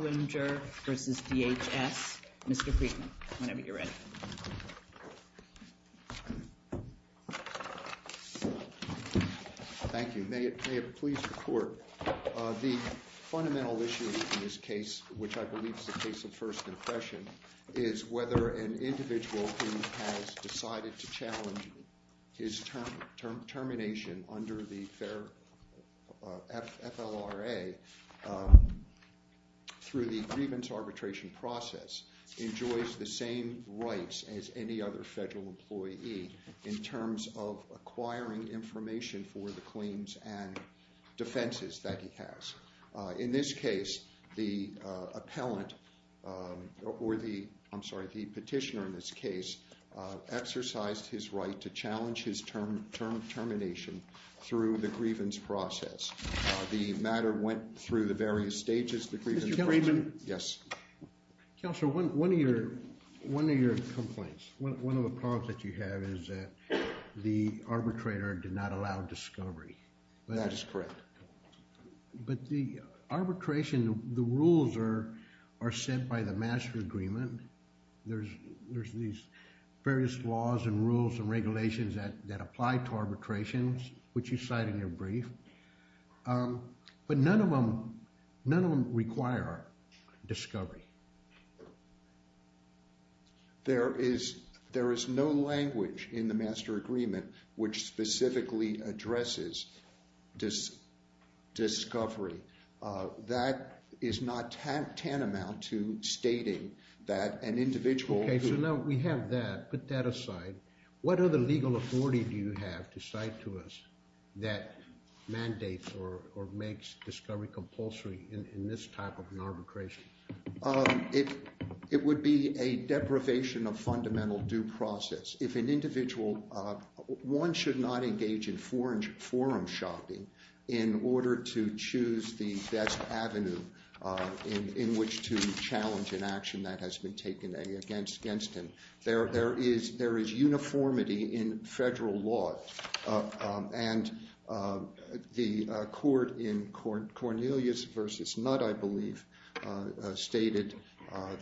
Mr. Kriegman, whenever you're ready. Thank you. May it please the Court. The fundamental issue in this case, which I believe is a case of first impression, is whether an individual who has decided to challenge his termination under the FLRA through the grievance arbitration process enjoys the same rights as any other federal employee in terms of acquiring information for the claims and defenses that he has. In this case, the petitioner exercised his right to challenge his term termination through the grievance process. The matter went through the various stages of the grievance process. Mr. Kriegman? Yes. Counselor, one of your complaints, one of the problems that you have is that the arbitrator did not allow discovery. That is correct. But the arbitration, the rules are set by the master agreement. There's these various laws and rules and regulations that apply to arbitrations, which you cite in your brief. But none of them require discovery. There is no language in the master agreement which specifically addresses discovery. That is not tantamount to stating that an individual... Okay, so now we have that. Put that aside. What other legal authority do you have to cite to us that mandates or makes discovery compulsory in this type of an arbitration? It would be a deprivation of fundamental due process. If an individual... One should not engage in forum shopping in order to choose the best avenue in which to challenge an action that has been taken against him. There is uniformity in federal law. And the court in Cornelius v. Nutt, I believe, stated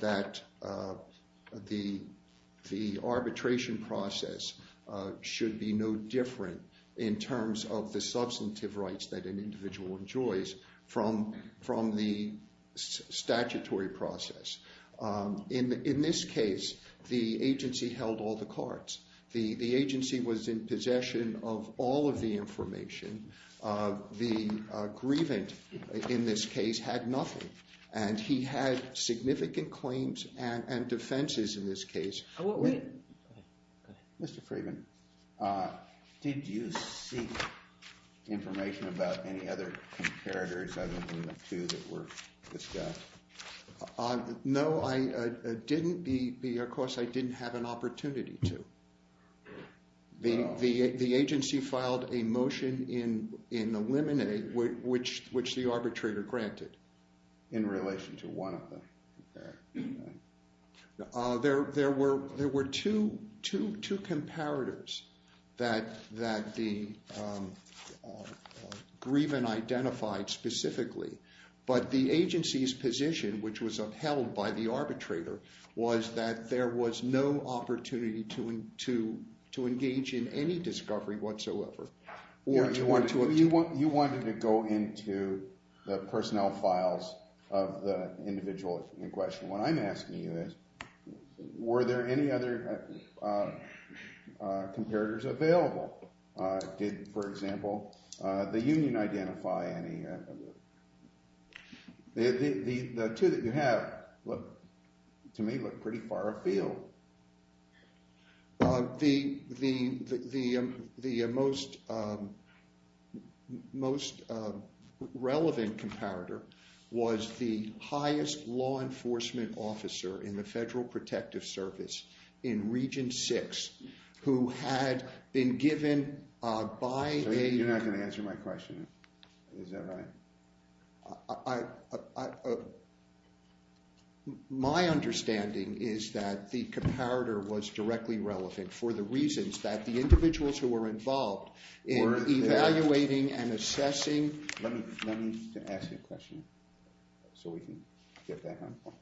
that the arbitration process should be no different in terms of the substantive rights that an individual enjoys from the statutory process. In this case, the agency held all the cards. The agency was in possession of all of the information. The grievant in this case had nothing. And he had significant claims and defenses in this case. Wait. Go ahead. Go ahead. Mr. Freeman. Did you seek information about any other comparators other than the two that were discussed? No. No, I didn't. Of course, I didn't have an opportunity to. The agency filed a motion in the limine, which the arbitrator granted. In relation to one of them. There were two comparators that the grievant identified specifically. But the agency's position, which was upheld by the arbitrator, was that there was no opportunity to engage in any discovery whatsoever. You wanted to go into the personnel files of the individual in question. What I'm asking you is, were there any other comparators available? Did, for example, the union identify any? The two that you have, to me, look pretty far afield. The most relevant comparator was the highest law enforcement officer in the Federal Protective Service, in Region 6, who had been given by a... You're not going to answer my question. Is that right? My understanding is that the comparator was directly relevant for the reasons that the individuals who were involved in evaluating and assessing... Let me ask you a question, so we can get back on point.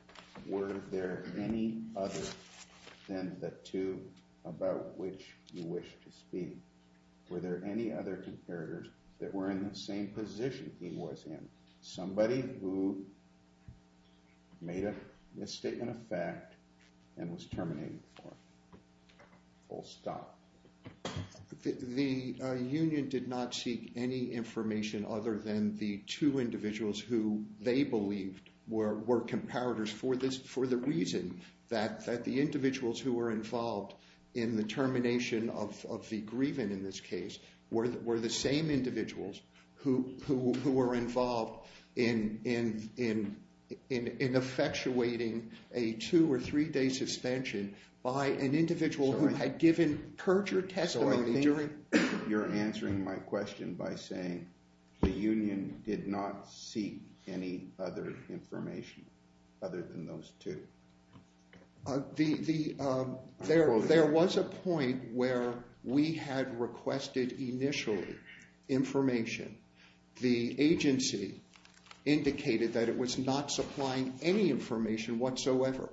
Were there any other than the two about which you wish to speak? Were there any other comparators that were in the same position he was in? Somebody who made a misstatement of fact and was terminated before full stop? The union did not seek any information other than the two individuals who they believed were comparators for the reason that the individuals who were involved in the termination of the grievance in this case were the same individuals who were involved in effectuating a two- or three-day suspension by an individual who had given perjured testimony during... There was a point where we had requested, initially, information. The agency indicated that it was not supplying any information whatsoever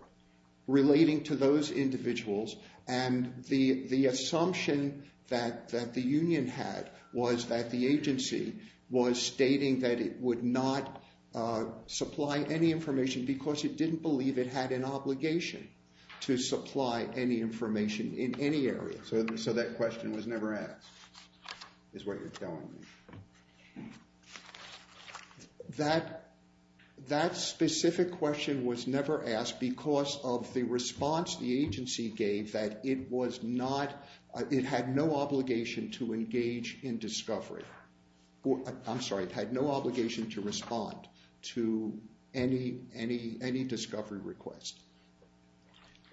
relating to those individuals, and the assumption that the union had was that the agency was stating that it would not supply any information because it didn't believe it had an obligation to supply any information in any area. So that question was never asked, is what you're telling me. That specific question was never asked because of the response the agency gave that it was to any discovery request.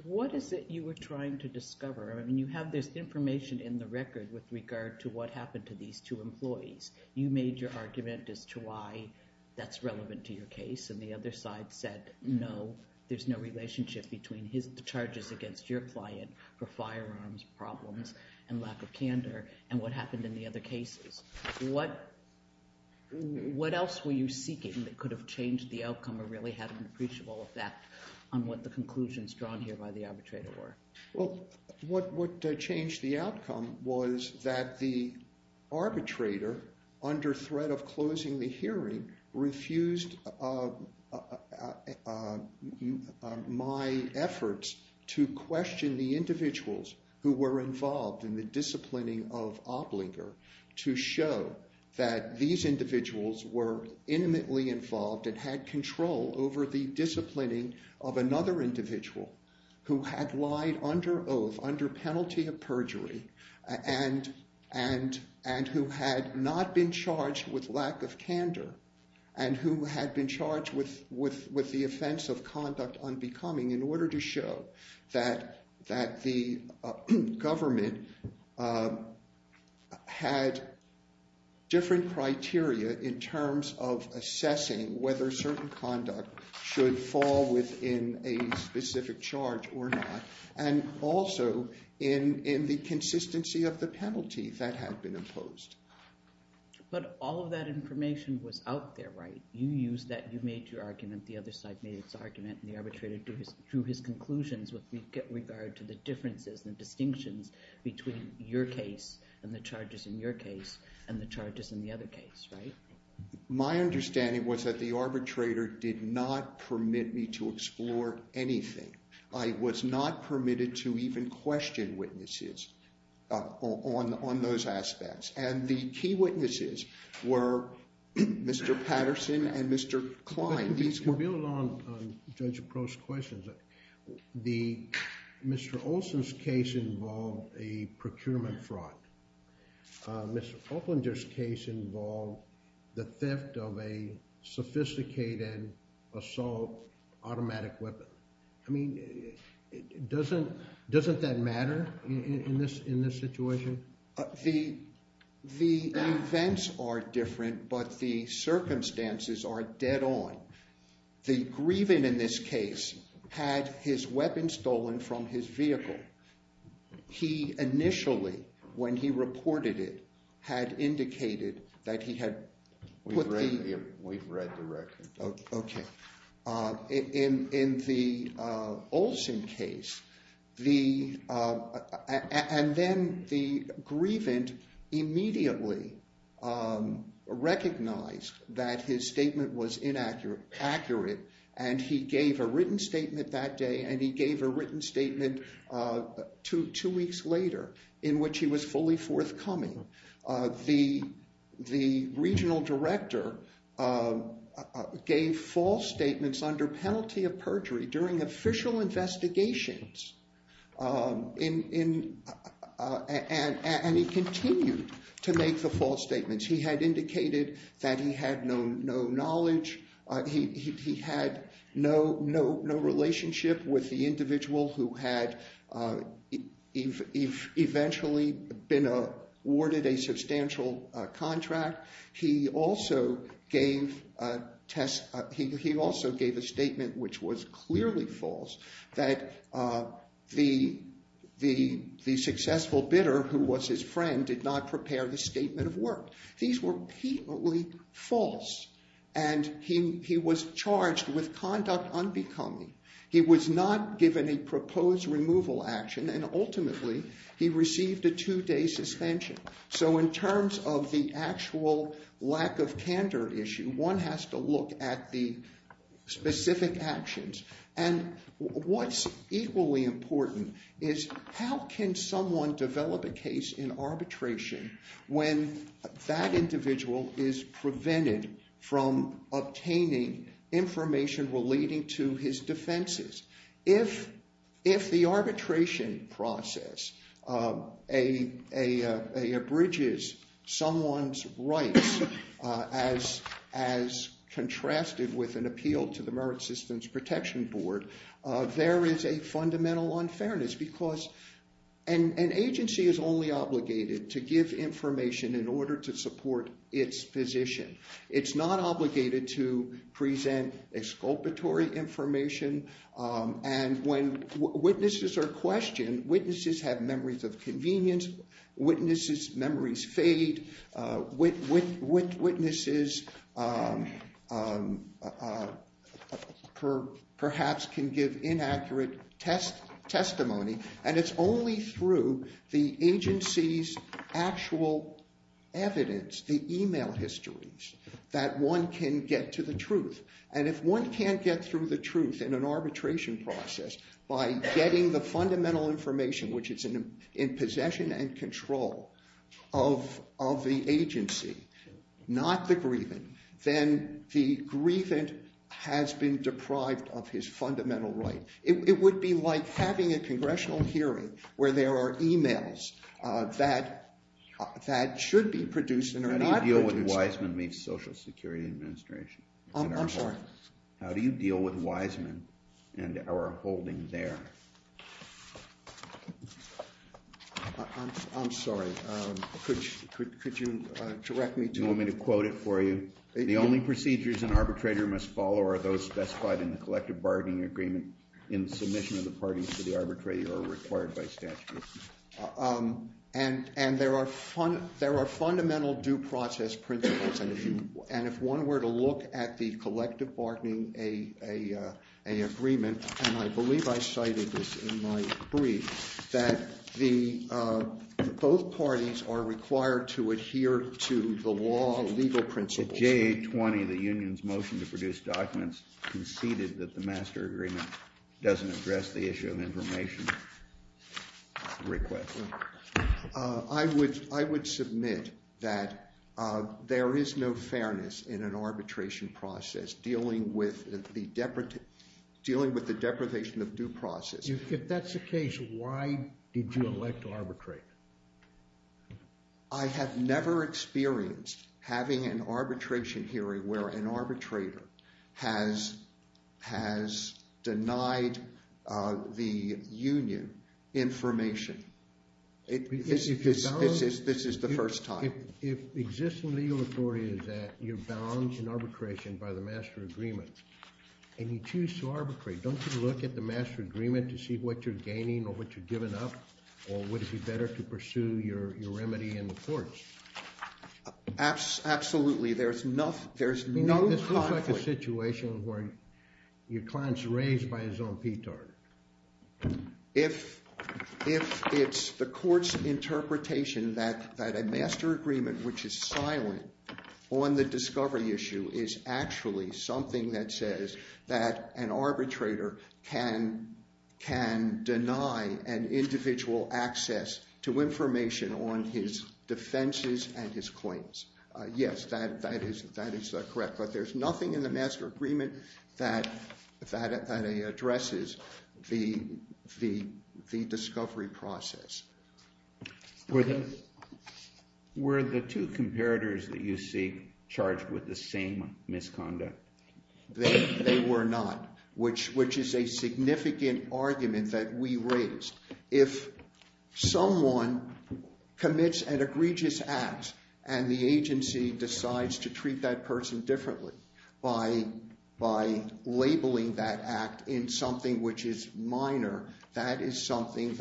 What is it you were trying to discover? You have this information in the record with regard to what happened to these two employees. You made your argument as to why that's relevant to your case, and the other side said no, there's no relationship between his charges against your client for firearms problems and lack of candor, and what happened in the other cases. What else were you seeking that could have changed the outcome or really had an appreciable effect on what the conclusions drawn here by the arbitrator were? Well, what changed the outcome was that the arbitrator, under threat of closing the hearing, refused my efforts to question the individuals who were involved in the disciplining of Oblinger to show that these individuals were intimately involved and had control over the disciplining of another individual who had lied under oath, under penalty of perjury, and who had not been charged with lack of candor and who had been charged with the offense of conduct unbecoming in order to show that the government had different criteria in terms of assessing whether certain conduct should fall within a specific charge or not, and also in the consistency of the penalty that had been imposed. But all of that information was out there, right? You used that. You made your argument. The other side made its argument, and the arbitrator drew his conclusions with regard to the differences and distinctions between your case and the charges in your case and the charges in the other case, right? My understanding was that the arbitrator did not permit me to explore anything. I was not permitted to even question witnesses on those aspects, and the key witnesses were Mr. Patterson and Mr. Klein. These were- To build on Judge Proh's questions, Mr. Olson's case involved a procurement fraud. Mr. Oblinger's case involved the theft of a sophisticated assault automatic weapon. I mean, doesn't that matter in this situation? The events are different, but the circumstances are dead on. The grieving in this case had his weapon stolen from his vehicle. He initially, when he reported it, had indicated that he had put the- We've read the record. Okay. In the Olson case, and then the grievant immediately recognized that his statement was inaccurate, and he gave a written statement that day, and he gave a written statement two weeks later in which he was fully forthcoming. The regional director gave false statements under penalty of perjury during official investigations, and he continued to make the false statements. He had indicated that he had no knowledge. He had no relationship with the individual who had eventually been awarded a substantial contract. He also gave a statement which was clearly false, that the successful bidder who was his friend did not prepare the statement of work. These were blatantly false, and he was charged with conduct unbecoming. He was not given a proposed removal action, and ultimately, he received a two-day suspension. So in terms of the actual lack of candor issue, one has to look at the specific actions. And what's equally important is how can someone develop a case in arbitration when that individual is prevented from obtaining information relating to his defenses? If the arbitration process abridges someone's rights as contrasted with an appeal to the arbitration board, there is a fundamental unfairness because an agency is only obligated to give information in order to support its position. It's not obligated to present exculpatory information, and when witnesses are questioned, witnesses have memories of convenience, witnesses' memories fade, witnesses perhaps can give inaccurate testimony, and it's only through the agency's actual evidence, the email histories, that one can get to the truth. And if one can't get through the truth in an arbitration process by getting the fundamental information, which is in possession and control of the agency, not the grievant, then the grievant has been deprived of his fundamental right. It would be like having a congressional hearing where there are emails that should be produced and are not produced. How do you deal with Wiseman v. Social Security Administration? I'm sorry? How do you deal with Wiseman and our holding there? I'm sorry. Could you direct me to... Do you want me to quote it for you? The only procedures an arbitrator must follow are those specified in the collective bargaining agreement in the submission of the parties to the arbitrator or required by statute. And there are fundamental due process principles, and if one were to look at the collective bargaining agreement, and I believe I cited this in my brief, that both parties are required to adhere to the law of legal principles. J.A. 20, the union's motion to produce documents, conceded that the master agreement doesn't address the issue of information request. I would submit that there is no fairness in an arbitration process dealing with the deprivation of due process. If that's the case, why did you elect to arbitrate? I have never experienced having an arbitration hearing where an arbitrator has denied the union information. This is the first time. If existing legal authority is that you're bound in arbitration by the master agreement, and you choose to arbitrate, don't you look at the master agreement to see what you're gaining or what you've given up, or would it be better to pursue your remedy in the courts? Absolutely. There's no conflict. This looks like a situation where your client's raised by his own petard. If it's the court's interpretation that a master agreement, which is silent on the discovery issue, is actually something that says that an arbitrator can deny an individual access to information on his defenses and his claims, yes, that is correct, but there's nothing in the master agreement that addresses the discovery process. Were the two comparators that you see charged with the same misconduct? They were not, which is a significant argument that we raised. If someone commits an egregious act and the agency decides to treat that person differently by labeling that act in something which is minor, that is something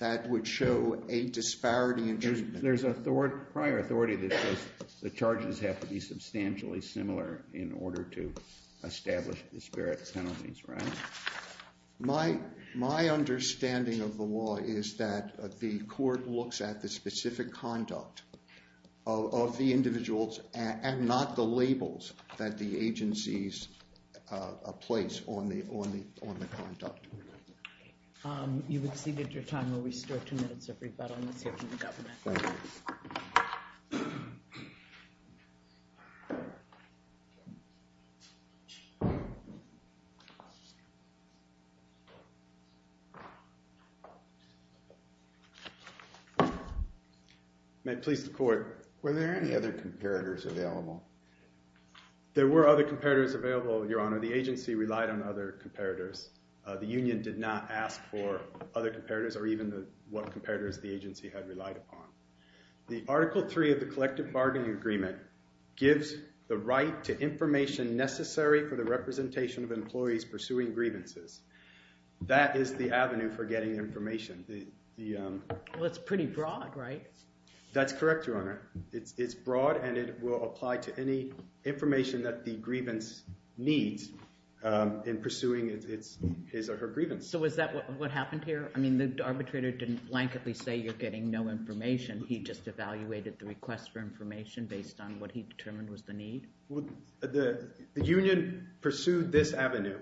that would show a disparity in treatment. There's a prior authority that says the charges have to be substantially similar in order to establish disparate penalties, right? My understanding of the law is that the court looks at the specific conduct of the individuals and not the labels that the agencies place on the conduct. You've exceeded your time. We'll restore two minutes of rebuttal. Let's hear from the government. May it please the court. Were there any other comparators available? There were other comparators available, Your Honor. The agency relied on other comparators. The union did not ask for other comparators or even what comparators the agency had relied upon. The Article 3 of the Collective Bargaining Agreement gives the right to information necessary for the representation of employees pursuing grievances. That is the avenue for getting information. Well, it's pretty broad, right? That's correct, Your Honor. It's broad and it will apply to any information that the grievance needs in pursuing his or her grievance. So is that what happened here? I mean, the arbitrator didn't blanketly say you're getting no information. He just evaluated the request for information based on what he determined was the need? Well, the union pursued this avenue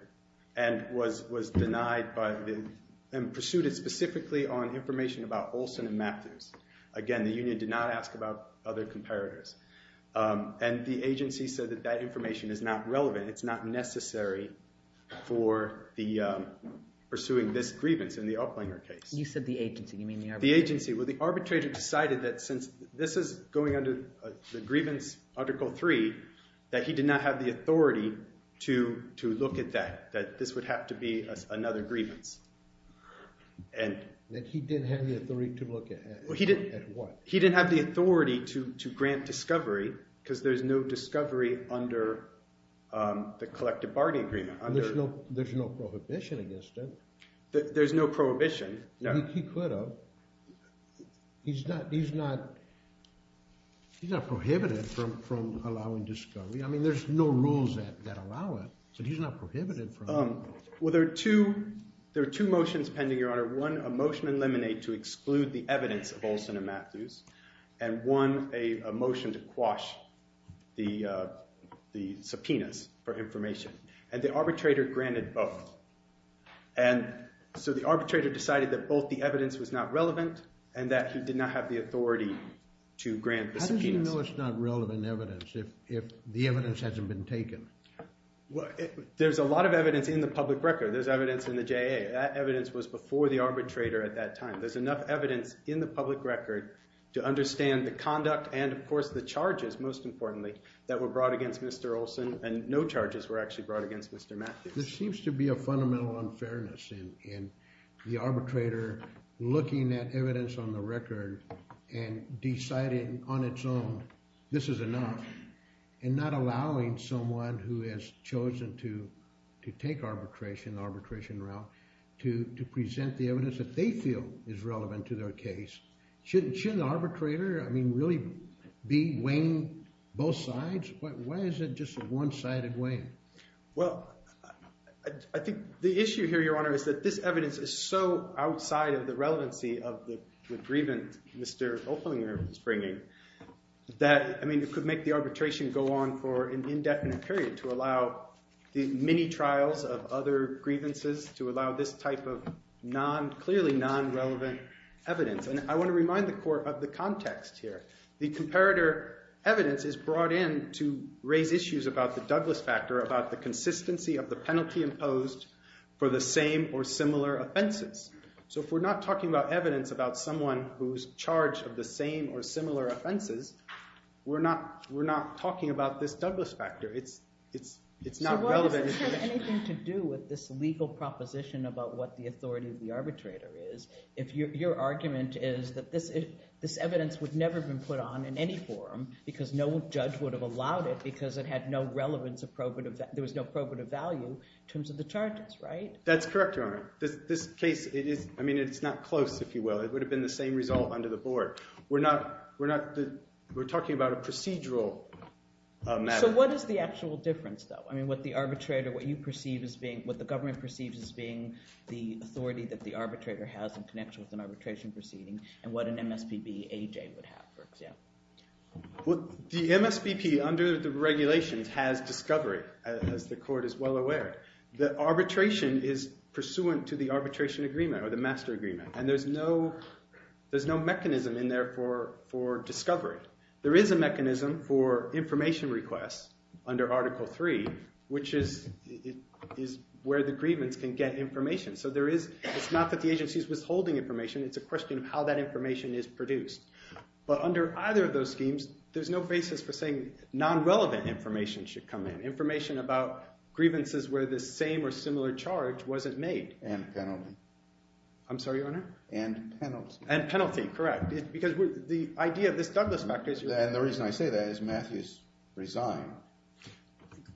and was denied by the—and pursued it specifically on information about Olson and Matthews. Again, the union did not ask about other comparators. And the agency said that that information is not relevant. It's not necessary for the—pursuing this grievance in the Uplanger case. You said the agency. You mean the arbitrator? The agency. Well, the arbitrator decided that since this is going under the grievance Article 3, that he did not have the authority to look at that. That this would have to be another grievance. That he didn't have the authority to look at it? At what? He didn't have the authority to grant discovery because there's no discovery under the collective bargaining agreement. There's no prohibition against it? There's no prohibition. He could have. He's not prohibited from allowing discovery. I mean, there's no rules that allow it. So he's not prohibited from— Well, there are two motions pending, Your Honor. One, a motion in Lemonade to exclude the evidence of Olson and Matthews. And one, a motion to quash the subpoenas for information. And the arbitrator granted both. And so the arbitrator decided that both the evidence was not relevant and that he did not have the authority to grant the subpoenas. How do you know it's not relevant evidence if the evidence hasn't been taken? Well, there's a lot of evidence in the public record. There's evidence in the JA. That evidence was before the arbitrator at that time. There's enough evidence in the public record to understand the conduct and, of course, the charges, most importantly, that were brought against Mr. Olson. And no charges were actually brought against Mr. Matthews. There seems to be a fundamental unfairness in the arbitrator looking at evidence on the record and deciding on its own, this is enough, and not allowing someone who has chosen to take arbitration, the arbitration route, to present the evidence that they feel is relevant to their case. Shouldn't the arbitrator, I mean, really be weighing both sides? Why is it just a one-sided weighing? Well, I think the issue here, Your Honor, is that this evidence is so outside of the relevancy of the grievance Mr. Oeflinger is bringing that, I mean, it could make the arbitration go on for an indefinite period to allow the mini-trials of other grievances, to allow this type of clearly non-relevant evidence. And I want to remind the Court of the context here. The comparator evidence is brought in to raise issues about the Douglas factor, about the consistency of the penalty imposed for the same or similar offenses. So if we're not talking about evidence about someone who's charged of the same or similar offenses, we're not talking about this Douglas factor. It's not relevant. So what if this has anything to do with this legal proposition about what the authority of the arbitrator is? If your argument is that this evidence would never have been put on in any forum, because no judge would have allowed it, because it had no relevance, there was no probative value in terms of the charges, right? That's correct, Your Honor. This case, it is, I mean, it's not close, if you will. It would have been the same result under the board. We're not, we're not, we're talking about a procedural matter. So what is the actual difference, though? I mean, what the arbitrator, what you perceive as being, what the government perceives as being the authority that the arbitrator has in connection with an arbitration proceeding, and what an MSPB AJ would have, for example? Well, the MSPB, under the regulations, has discovery, as the Court is well aware. The arbitration is pursuant to the arbitration agreement, or the master agreement, and there's no mechanism in there for discovery. There is a mechanism for information requests under Article 3, which is where the grievance can get information. So there is, it's not that the agency is withholding information, it's a question of how that information is produced. But under either of those schemes, there's no basis for saying non-relevant information should come in. Information about grievances where the same or similar charge wasn't made. And penalty. I'm sorry, Your Honor? And penalty. And penalty, correct. Because the idea of this Douglas factor is... And the reason I say that is Matthew's resigned.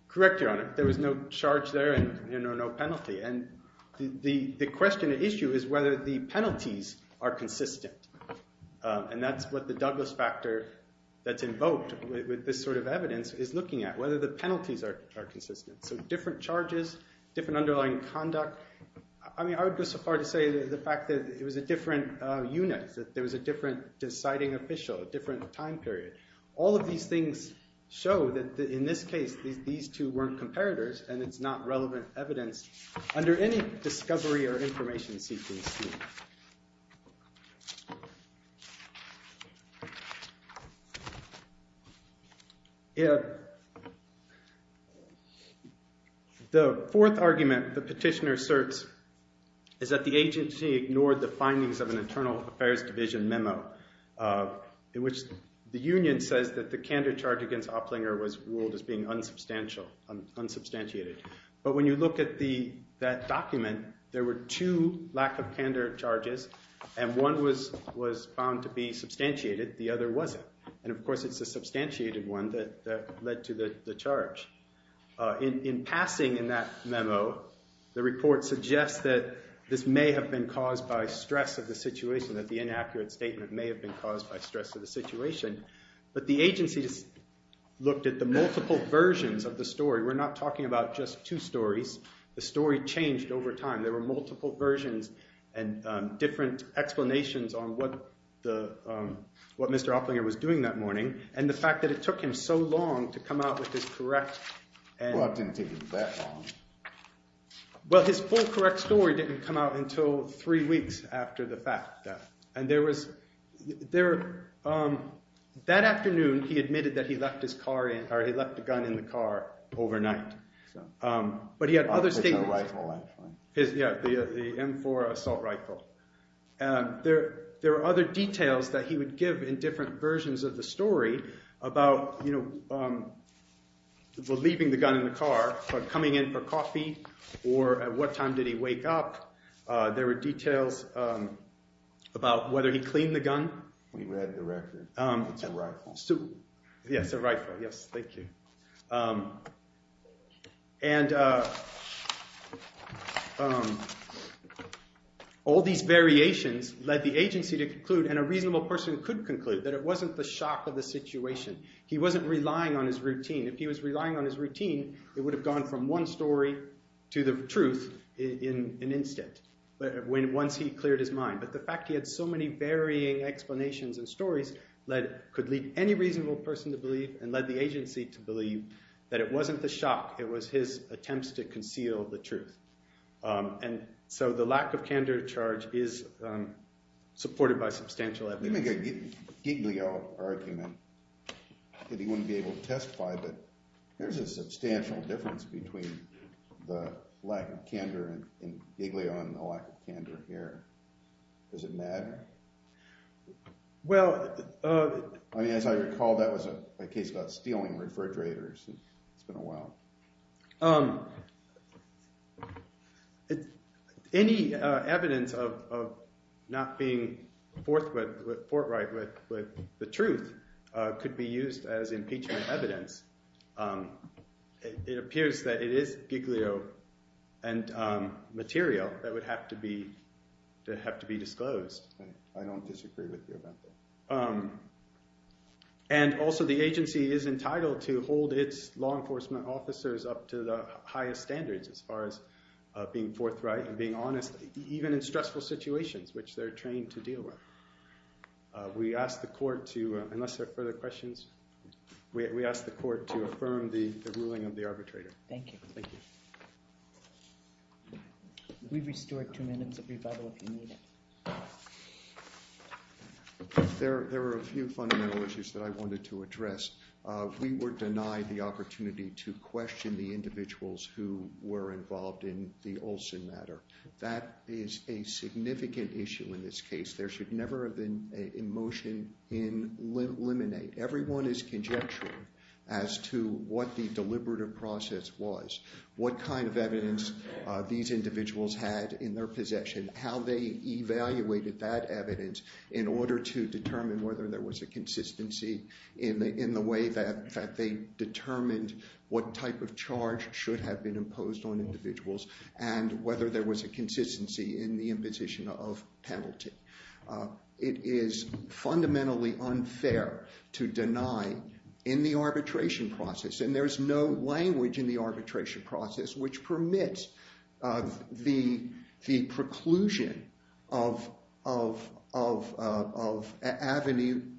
Correct, Your Honor. There was no charge there, and no penalty. And the question at issue is whether the penalties are consistent. And that's what the Douglas factor that's invoked with this sort of evidence is looking at. Whether the penalties are consistent. So different charges, different underlying conduct. I mean, I would go so far as to say the fact that it was a different unit. That there was a different deciding official, a different time period. All of these things show that in this case, these two weren't comparators, and it's not relevant evidence under any discovery or information seeking scheme. The fourth argument the petitioner asserts is that the agency ignored the findings of an Internal Affairs Division memo. In which the union says that the candor charge against Opplinger was ruled as being unsubstantiated. But when you look at that document, there were two lack of candor charges. And one was found to be substantiated, the other wasn't. And of course, it's the substantiated one that led to the charge. In passing in that memo, the report suggests that this may have been caused by stress of the situation. That the inaccurate statement may have been caused by stress of the situation. But the agency just looked at the multiple versions of the story. We're not talking about just two stories. The story changed over time. There were multiple versions and different explanations on what Mr. Opplinger was doing that morning. And the fact that it took him so long to come out with his correct... Well, it didn't take him that long. Well, his full correct story didn't come out until three weeks after the fact. And that afternoon, he admitted that he left the gun in the car overnight. But he had other statements. The M4 assault rifle. And there were other details that he would give in different versions of the story about leaving the gun in the car, but coming in for coffee. Or at what time did he wake up? There were details about whether he cleaned the gun. We read the record. Yes, a rifle. Yes, thank you. And all these variations led the agency to conclude, and a reasonable person could conclude, that it wasn't the shock of the situation. He wasn't relying on his routine. If he was relying on his routine, it would have gone from one story to the truth in an instant. Once he cleared his mind. But the fact he had so many varying explanations and stories could lead any reasonable person to believe, and led the agency to believe, that it wasn't the shock. It was his attempts to conceal the truth. And so the lack of candor charge is supported by substantial evidence. Let me make a Giglio argument that he wouldn't be able to testify. There's a substantial difference between the lack of candor in Giglio and the lack of candor here. Does it matter? Well, as I recall, that was a case about stealing refrigerators. It's been a while. Any evidence of not being forthright with the truth could be used as impeachment evidence. It appears that it is Giglio and material that would have to be disclosed. I don't disagree with you about that. And also, the agency is entitled to hold its law enforcement officers up to the highest standards as far as being forthright and being honest, even in stressful situations, which they're trained to deal with. We ask the court to, unless there are further questions, we ask the court to affirm the ruling of the arbitrator. Thank you. Thank you. We've restored two minutes of rebuttal if you need it. There were a few fundamental issues that I wanted to address. We were denied the opportunity to question the individuals who were involved in the Olson matter. That is a significant issue in this case. There should never have been a motion in limine. Everyone is conjecturing as to what the deliberative process was, what kind of evidence these individuals had in their possession, how they evaluated that evidence in order to determine whether there was a consistency in the way that they determined what type of charge should have been imposed on individuals, and whether there was a consistency in the imposition of penalty. It is fundamentally unfair to deny in the arbitration process, and there is no language in the arbitration process which permits the preclusion of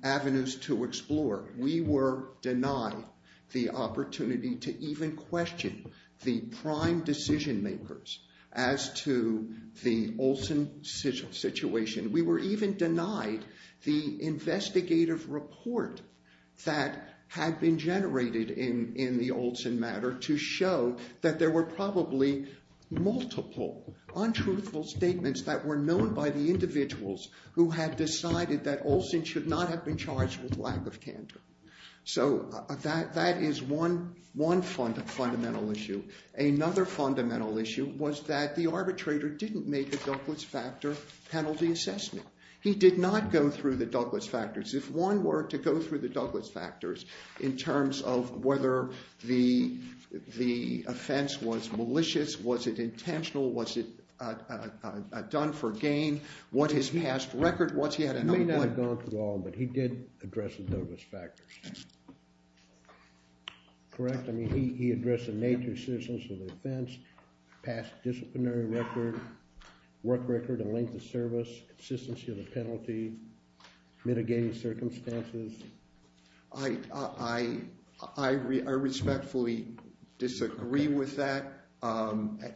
avenues to explore. We were denied the opportunity to even question the prime decision makers as to the Olson situation. We were even denied the investigative report that had been generated in the Olson matter to show that there were probably multiple untruthful statements that were known by the individuals who had decided that Olson should not have been charged with lack of candor. So that is one fundamental issue. Another fundamental issue was that the arbitrator didn't make a Douglas Factor penalty assessment. He did not go through the Douglas Factors. If one were to go through the Douglas Factors in terms of whether the offense was malicious, was it intentional, was it done for gain, what his past record was, he had a number of— He may not have gone through all, but he did address the Douglas Factors. Correct? He addressed the nature of citizens of the offense, past disciplinary record, work record and length of service, consistency of the penalty, mitigating circumstances. I respectfully disagree with that.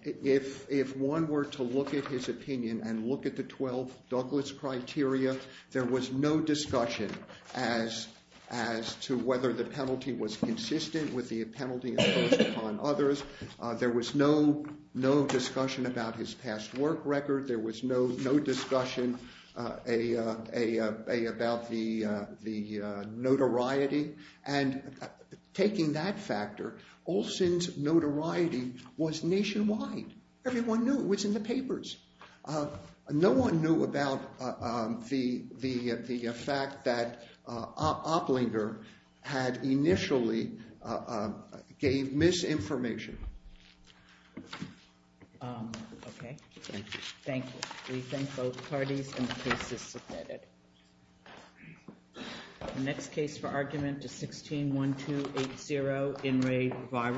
If one were to look at his opinion and look at the 12 Douglas criteria, there was no discussion as to whether the penalty was consistent with the penalty imposed upon others. There was no discussion about his past work record. There was no discussion about the notoriety. And taking that factor, Olson's notoriety was nationwide. Everyone knew. It was in the papers. No one knew about the fact that Opplinger had initially gave misinformation. Okay, thank you. We thank both parties and the cases submitted. The next case for argument is 16-1280, In Re Virus.